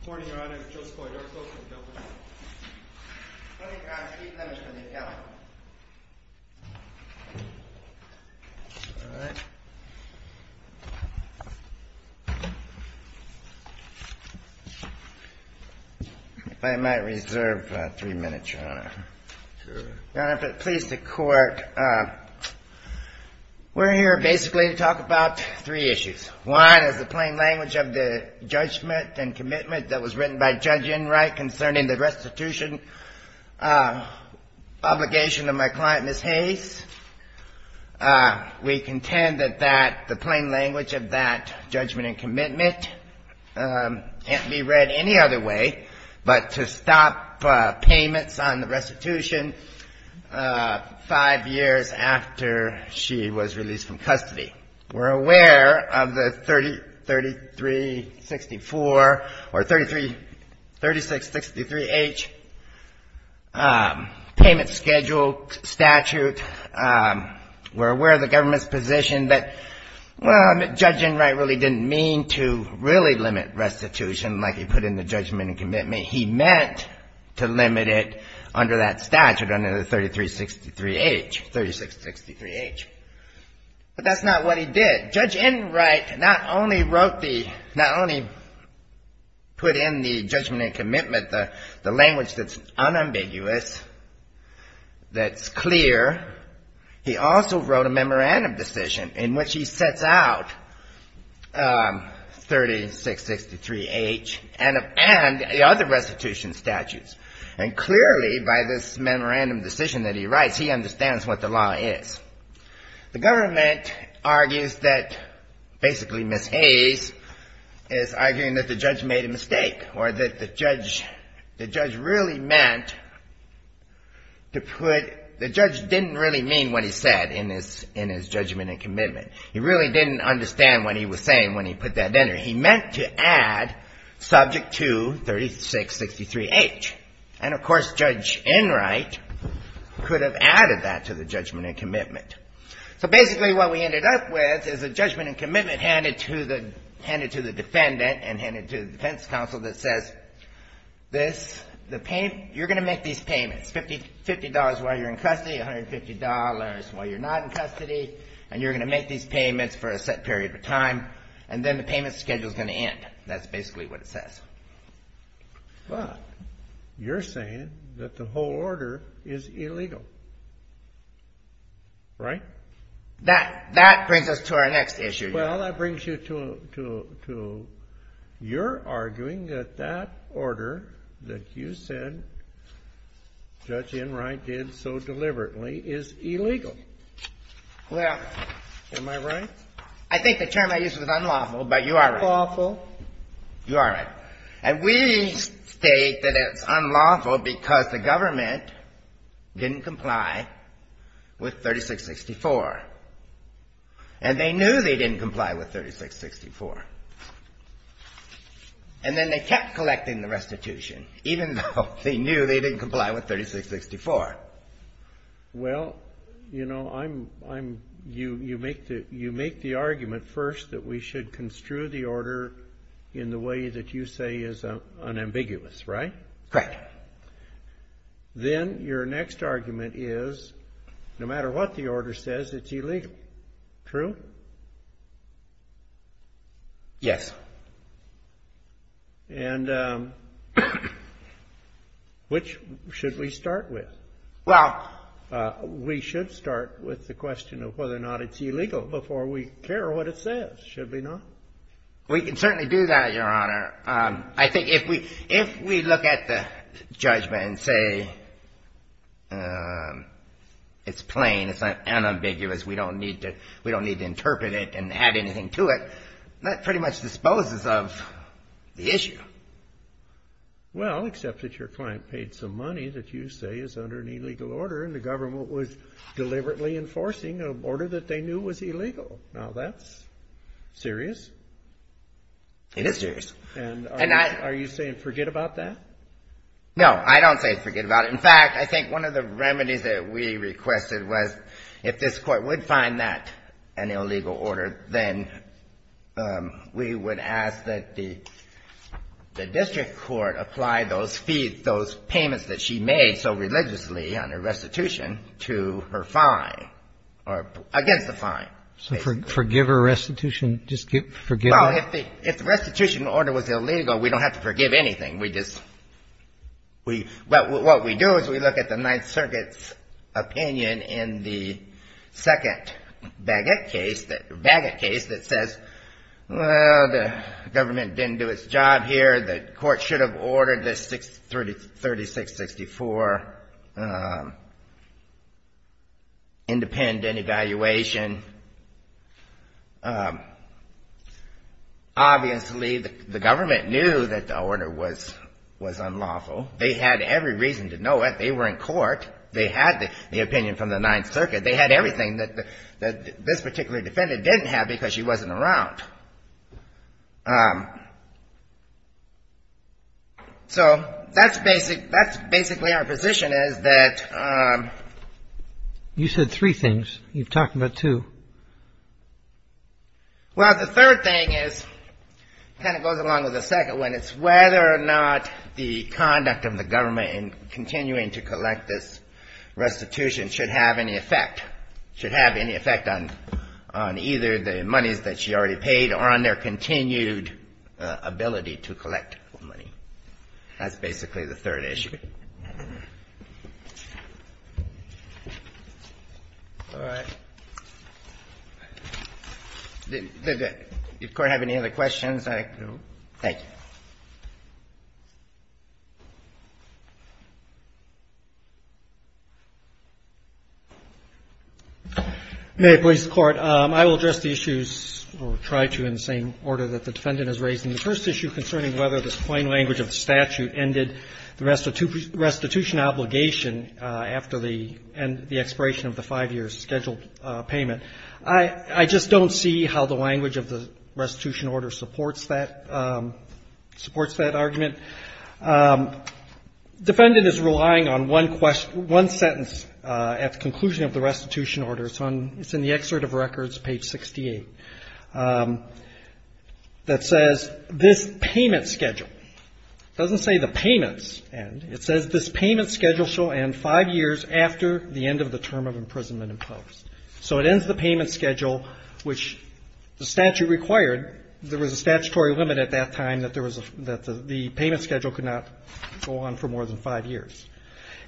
Good morning, Your Honor. I'm Joseph Oydarko from the government. Good morning, Your Honor. Steve Lemons from the appellant. All right. If I might reserve three minutes, Your Honor. Sure. Your Honor, if it pleases the Court, we're here basically to talk about three issues. One is the plain language of the judgment and commitment that was written by Judge Enright concerning the restitution obligation of my client, Ms. Hayes. We contend that the plain language of that judgment and commitment can't be read any other way but to stop payments on the restitution five years after she was released from custody. We're aware of the 3364, or 3663H payment schedule statute. We're aware of the government's position that, well, Judge Enright really didn't mean to really limit restitution like he put in the judgment and commitment. He meant to limit it under that statute, under the 3363H. But that's not what he did. Judge Enright not only put in the judgment and commitment, the language that's unambiguous, that's clear, he also wrote a memorandum decision in which he sets out 3663H and the other restitution statutes. And clearly, by this memorandum decision that he writes, he understands what the law is. The government argues that basically Ms. Hayes is arguing that the judge made a mistake or that the judge really meant to put, the judge didn't really mean what he said in his judgment and commitment. He really didn't understand what he was saying when he put that in there. He meant to add subject to 3663H. And, of course, Judge Enright could have added that to the judgment and commitment. So basically what we ended up with is a judgment and commitment handed to the defendant and handed to the defense counsel that says this, you're going to make these payments, $50 while you're in custody, $150 while you're not in custody, and you're going to make these payments for a set period of time, and then the payment schedule's going to end. That's basically what it says. But you're saying that the whole order is illegal, right? That brings us to our next issue. Well, that brings you to your arguing that that order that you said Judge Enright did so deliberately is illegal. Well... Am I right? I think the term I used was unlawful, but you are right. Am I lawful? You are right. And we state that it's unlawful because the government didn't comply with 3664. And they knew they didn't comply with 3664. And then they kept collecting the restitution, even though they knew they didn't comply with 3664. Well, you know, you make the argument first that we should construe the order in the way that you say is unambiguous, right? Correct. Then your next argument is no matter what the order says, it's illegal. True? Yes. And which should we start with? Well... We should start with the question of whether or not it's illegal before we care what it says, should we not? We can certainly do that, Your Honor. I think if we look at the judgment and say it's plain, it's unambiguous, we don't need to interpret it and add anything to it, that pretty much disposes of the issue. Well, except that your client paid some money that you say is under an illegal order and the government was saying it was illegal. Now, that's serious. It is serious. And are you saying forget about that? No, I don't say forget about it. In fact, I think one of the remedies that we requested was if this Court would find that an illegal order, then we would ask that the district court apply those fees, those payments that she made so religiously under restitution to her client. So forgive her restitution? Well, if the restitution order was illegal, we don't have to forgive anything. What we do is we look at the Ninth Circuit's opinion in the second case that says, well, the government didn't do its job here, the Court should have ordered the 3664 independent evaluation. Obviously, the government knew that the order was unlawful. They had every reason to know it. They were in court. They had the opinion from the Ninth Circuit. They had everything that this particular defendant didn't have because she wasn't around. So that's basically our position is that You said three things. You've talked about two. Well, the third thing is kind of goes along with the second one. It's whether or not the conduct of the government in continuing to collect this restitution should have any effect on either the monies that she already paid or on their continued ability to collect money. That's basically the third issue. All right. Does the Court have any other questions? No. Thank you. May it please the Court. I will address the issues or try to in the same order that the defendant is raising. The first issue concerning whether the plain language of the statute ended the restitution obligation after the expiration of the five-year scheduled payment. I just don't see how the language of the restitution order supports that argument. Defendant is relying on one sentence at the conclusion of the restitution order. It's in the excerpt of records, page 68, that says this payment schedule. It doesn't say the payments end. It says this payment schedule shall end five years after the end of the term of imprisonment imposed. So it ends the payment schedule, which the statute required. There was a statutory limit at that time that the payment schedule could not go on for more than five years.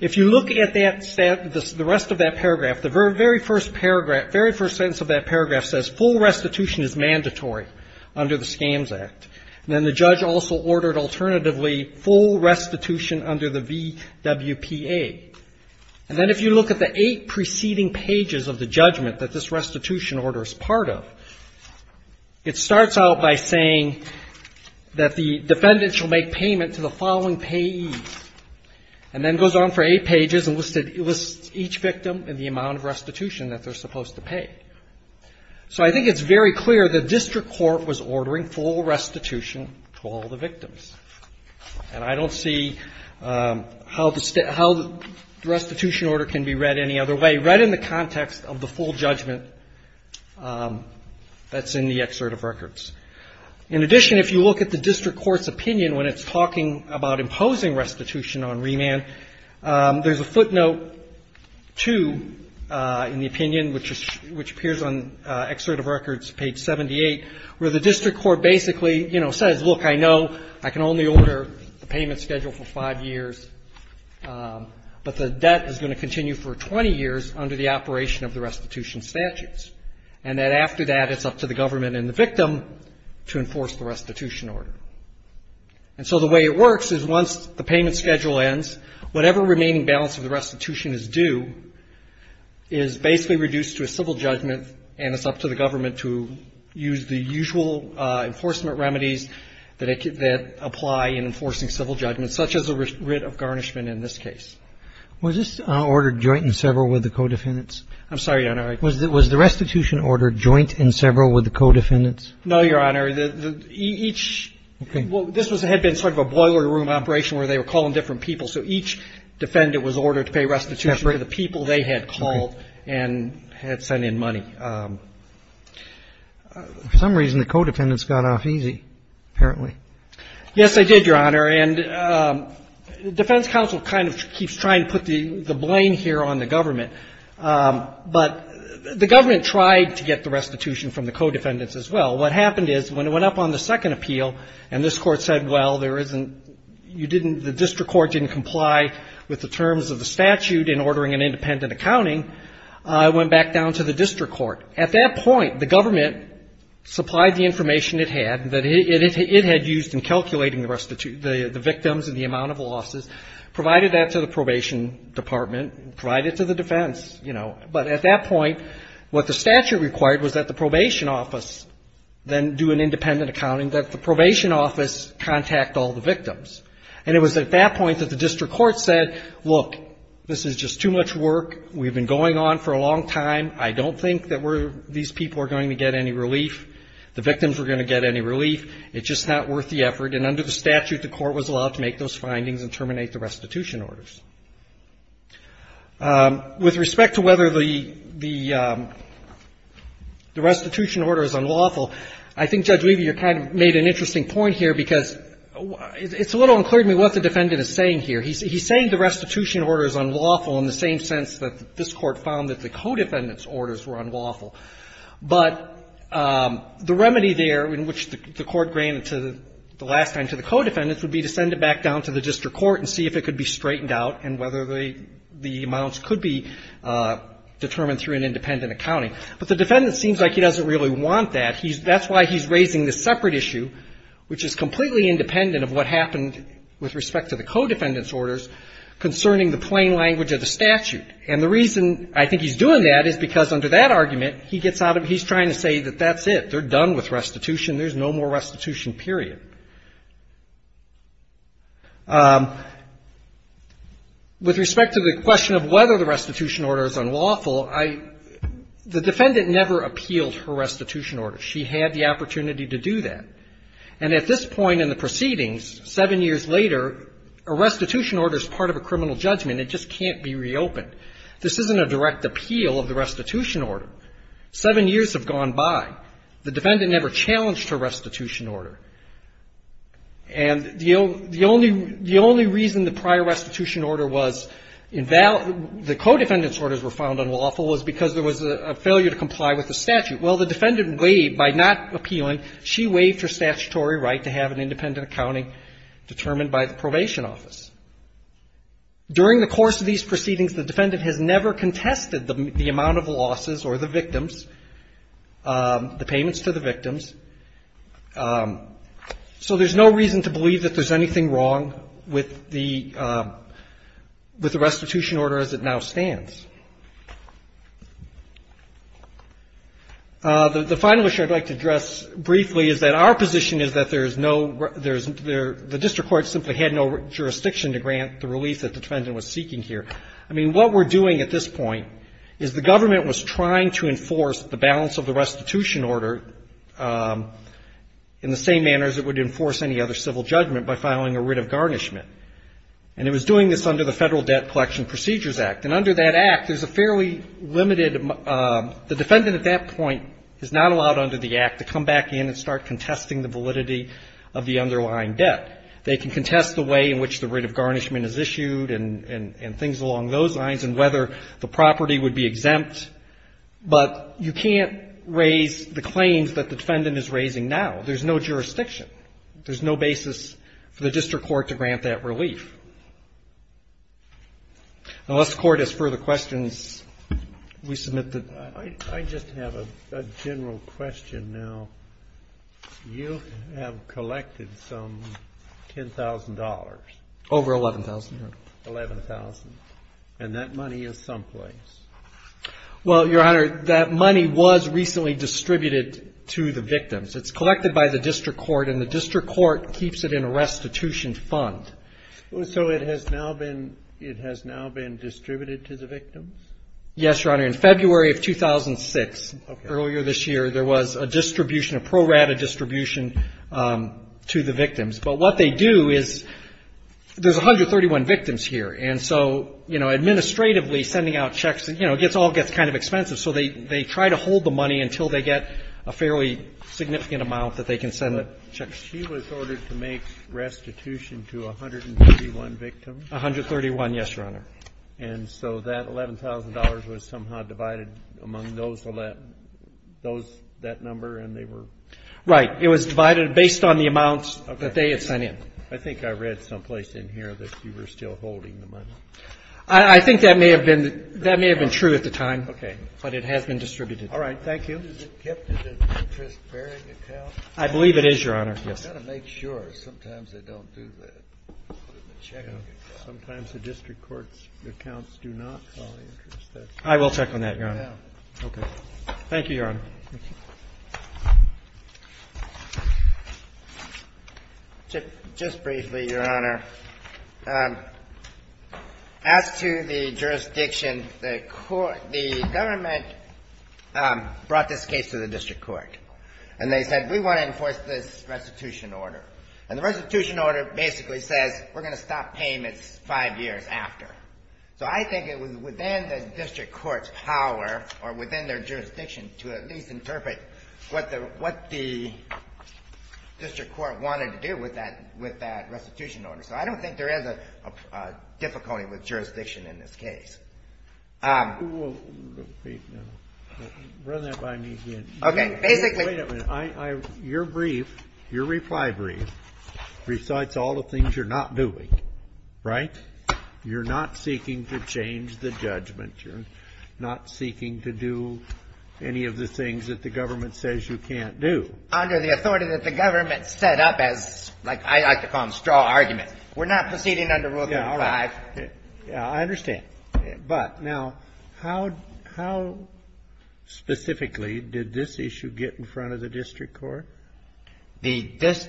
If you look at the rest of that paragraph, the very first paragraph, very first sentence of that paragraph says full restitution is mandatory under the Scams Act. And then the judge also ordered alternatively full restitution under the VWPA. And then if you look at the eight preceding pages of the judgment that this restitution order is part of, it starts out by saying that the defendant shall make payment to the following payee, and then goes on for eight pages and lists each victim and the amount of restitution that they're supposed to pay. So I think it's very clear the district court was ordering full restitution to all the victims. And I don't see how the restitution order can be read any other way, right in the context of the full judgment that's in the excerpt of records. In addition, if you look at the district court's opinion when it's talking about imposing restitution on remand, there's a footnote 2 in the opinion, which appears on excerpt of records, page 78, where the district court basically, you know, says, look, I know I can only order the payment schedule for five years, but the debt is going to continue for 20 years under the operation of the restitution statutes, and that after that, it's up to the government and the victim to enforce the restitution order. And so the way it works is once the payment schedule ends, whatever remaining balance of the restitution is due is basically reduced to a civil judgment, and it's up to the government to use the usual enforcement remedies that apply in enforcing civil judgment, such as a writ of garnishment in this case. Was this order joint and several with the co-defendants? I'm sorry, Your Honor. Was the restitution order joint and several with the co-defendants? No, Your Honor. Each – Okay. Well, this had been sort of a boiler room operation where they were calling different people, so each defendant was ordered to pay restitution to the people they had called and had sent in money. For some reason, the co-defendants got off easy, apparently. Yes, they did, Your Honor. And defense counsel kind of keeps trying to put the blame here on the government, but the government tried to get the restitution from the co-defendants as well. What happened is when it went up on the second appeal and this Court said, well, there isn't – you didn't – the district court didn't comply with the terms of the statute in ordering an independent accounting, it went back down to the district court. At that point, the government supplied the information it had that it had used in calculating the victims and the amount of losses, provided that to the probation department, provided it to the defense, you know. But at that point, what the statute required was that the probation office then do an independent accounting, that the probation office contact all the victims. And it was at that point that the district court said, look, this is just too much work. We've been going on for a long time. I don't think that we're – these people are going to get any relief. The victims are going to get any relief. It's just not worth the effort. And under the statute, the Court was allowed to make those findings and terminate the restitution orders. With respect to whether the restitution order is unlawful, I think Judge Levy, you kind of made an interesting point here, because it's a little unclear to me what the defendant is saying here. He's saying the restitution order is unlawful in the same sense that this Court found that the co-defendant's orders were unlawful. But the remedy there in which the Court granted to the last time to the co-defendants would be to send it back down to the district court and see if it could be straightened out and whether the amounts could be determined through an independent accounting. But the defendant seems like he doesn't really want that. He's – that's why he's raising this separate issue, which is completely independent of what happened with respect to the co-defendant's orders concerning the plain language of the statute. And the reason I think he's doing that is because under that argument, he gets out of – he's trying to say that that's it. They're done with restitution. There's no more restitution, period. With respect to the question of whether the restitution order is unlawful, I – the defendant never appealed her restitution order. She had the opportunity to do that. And at this point in the proceedings, seven years later, a restitution order is part of a criminal judgment. It just can't be reopened. This isn't a direct appeal of the restitution order. Seven years have gone by. The defendant never challenged her restitution order. And the only – the only reason the prior restitution order was – the co-defendant's orders were found unlawful was because there was a failure to comply with the statute. Well, the defendant, by not appealing, she waived her statutory right to have an independent accounting determined by the probation office. During the course of these proceedings, the defendant has never contested the amount of losses or the victims, the payments to the victims. So there's no reason to believe that there's anything wrong with the – with the restitution order as it now stands. The final issue I'd like to address briefly is that our position is that there's no – there's – the district court simply had no jurisdiction to grant the relief that the defendant was seeking here. I mean, what we're doing at this point is the government was trying to enforce the balance of the restitution order in the same manner as it would enforce any other civil judgment by filing a writ of garnishment. And it was doing this under the Federal Debt Collection Procedures Act. And under that Act, there's a fairly limited – the defendant at that point is not allowed under the Act to come back in and start contesting the validity of the underlying debt. They can contest the way in which the writ of garnishment is issued and things along those lines and whether the property would be exempt, but you can't raise the claims that the defendant is raising now. There's no jurisdiction. There's no basis for the district court to grant that relief. Unless the Court has further questions, we submit the – I just have a general question now. You have collected some $10,000. Over $11,000, Your Honor. $11,000. And that money is someplace. Well, Your Honor, that money was recently distributed to the victims. It's collected by the district court, and the district court keeps it in a restitution fund. So it has now been – it has now been distributed to the victims? Yes, Your Honor. In February of 2006, earlier this year, there was a distribution – a pro rata distribution to the victims. But what they do is – there's 131 victims here. And so, you know, administratively, sending out checks, you know, it all gets kind of expensive. So they try to hold the money until they get a fairly significant amount that they can send the checks. But she was ordered to make restitution to 131 victims? 131, yes, Your Honor. And so that $11,000 was somehow divided among those 11 – those – that number, and they were – Right. It was divided based on the amounts that they had sent in. I think I read someplace in here that you were still holding the money. I think that may have been – that may have been true at the time. Okay. But it has been distributed. All right. Thank you. Is it kept in an interest bearing account? I believe it is, Your Honor. Yes. I've got to make sure. Sometimes they don't do that. Sometimes the district court's accounts do not call the interest. I will check on that, Your Honor. Okay. Thank you, Your Honor. Thank you. Just briefly, Your Honor. As to the jurisdiction, the court – the government brought this case to the district court, and they said, we want to enforce this restitution order. And the restitution order basically says we're going to stop payments five years after. So I think it was within the district court's power or within their jurisdiction to at least interpret what the district court wanted to do with that restitution order. So I don't think there is a difficulty with jurisdiction in this case. We'll run that by me again. Okay. Basically – Wait a minute. Your brief, your reply brief, recites all the things you're not doing, right? You're not seeking to change the judgment. You're not seeking to do any of the things that the government says you can't do. Under the authority that the government set up as, like, I like to call them straw arguments. We're not proceeding under Rule 35. Yeah, all right. I understand. But now, how specifically did this issue get in front of the district court? Well, they don't just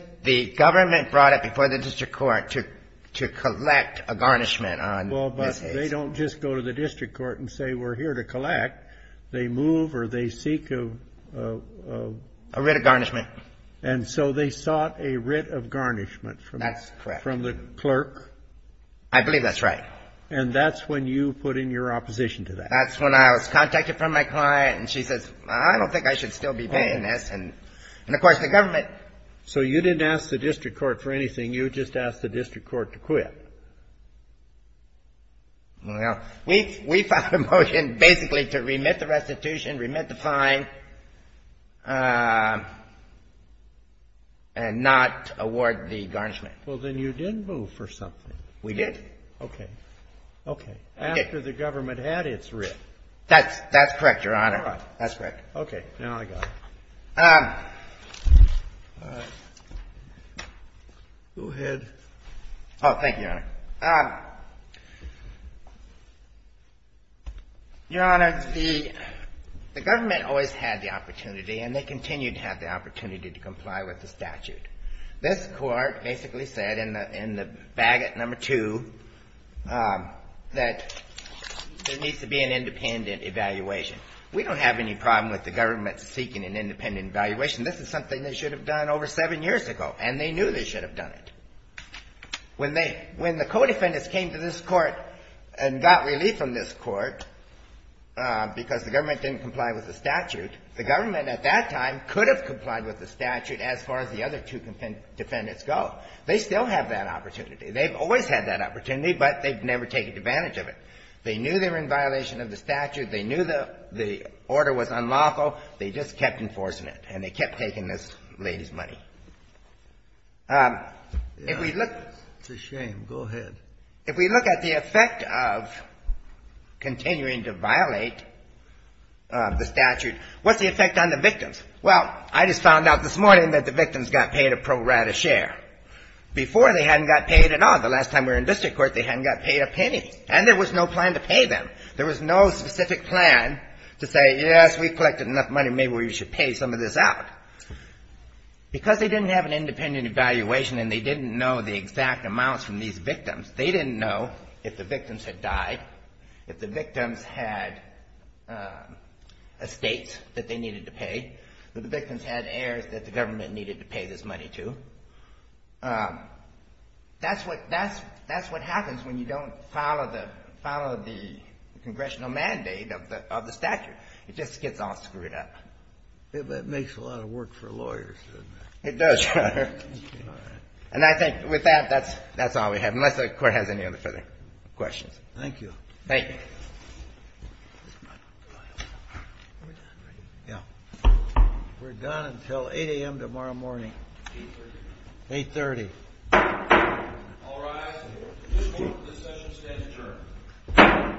go to the district court and say we're here to collect. They move or they seek a – A writ of garnishment. And so they sought a writ of garnishment from the clerk. That's correct. I believe that's right. And that's when you put in your opposition to that. That's when I was contacted from my client and she says, I don't think I should still be paying this. And, of course, the government – So you didn't ask the district court for anything. You just asked the district court to quit. Well, we found a motion basically to remit the restitution, remit the fine, and not award the garnishment. Well, then you didn't move for something. We did. Okay. Okay. After the government had its writ. That's correct, Your Honor. All right. That's correct. Okay. Now I got it. All right. Go ahead. Oh, thank you, Your Honor. Your Honor, the government always had the opportunity and they continue to have the opportunity to comply with the statute. This court basically said in the bagot number two that there needs to be an independent evaluation. We don't have any problem with the government seeking an independent evaluation. This is something they should have done over seven years ago, and they knew they should have done it. When the co-defendants came to this court and got relief from this court because the government didn't comply with the statute, the government at that time could have complied with the statute as far as the other two defendants go. They still have that opportunity. They've always had that opportunity, but they've never taken advantage of it. They knew they were in violation of the statute. They knew the order was unlawful. They just kept enforcing it, and they kept taking this lady's money. If we look at the effect of continuing to violate the statute, what's the effect on the victims? Well, I just found out this morning that the victims got paid a pro rata share. Before, they hadn't got paid at all. The last time we were in district court, they hadn't got paid a penny, and there was no plan to pay them. There was no specific plan to say, yes, we've collected enough money. Maybe we should pay some of this out. Because they didn't have an independent evaluation and they didn't know the exact amounts from these victims, they didn't know if the victims had died, if the victims had estates that they needed to pay, if the victims had heirs that the government needed to pay this money to. That's what happens when you don't follow the congressional mandate of the statute. It just gets all screwed up. It makes a lot of work for lawyers, doesn't it? It does. And I think with that, that's all we have, unless the Court has any other further questions. Thank you. Thank you. We're done, right? Yeah. We're done until 8 a.m. tomorrow morning. 8 a.m. 8 a.m. All rise. The Court of Discussion stands adjourned. Thank you.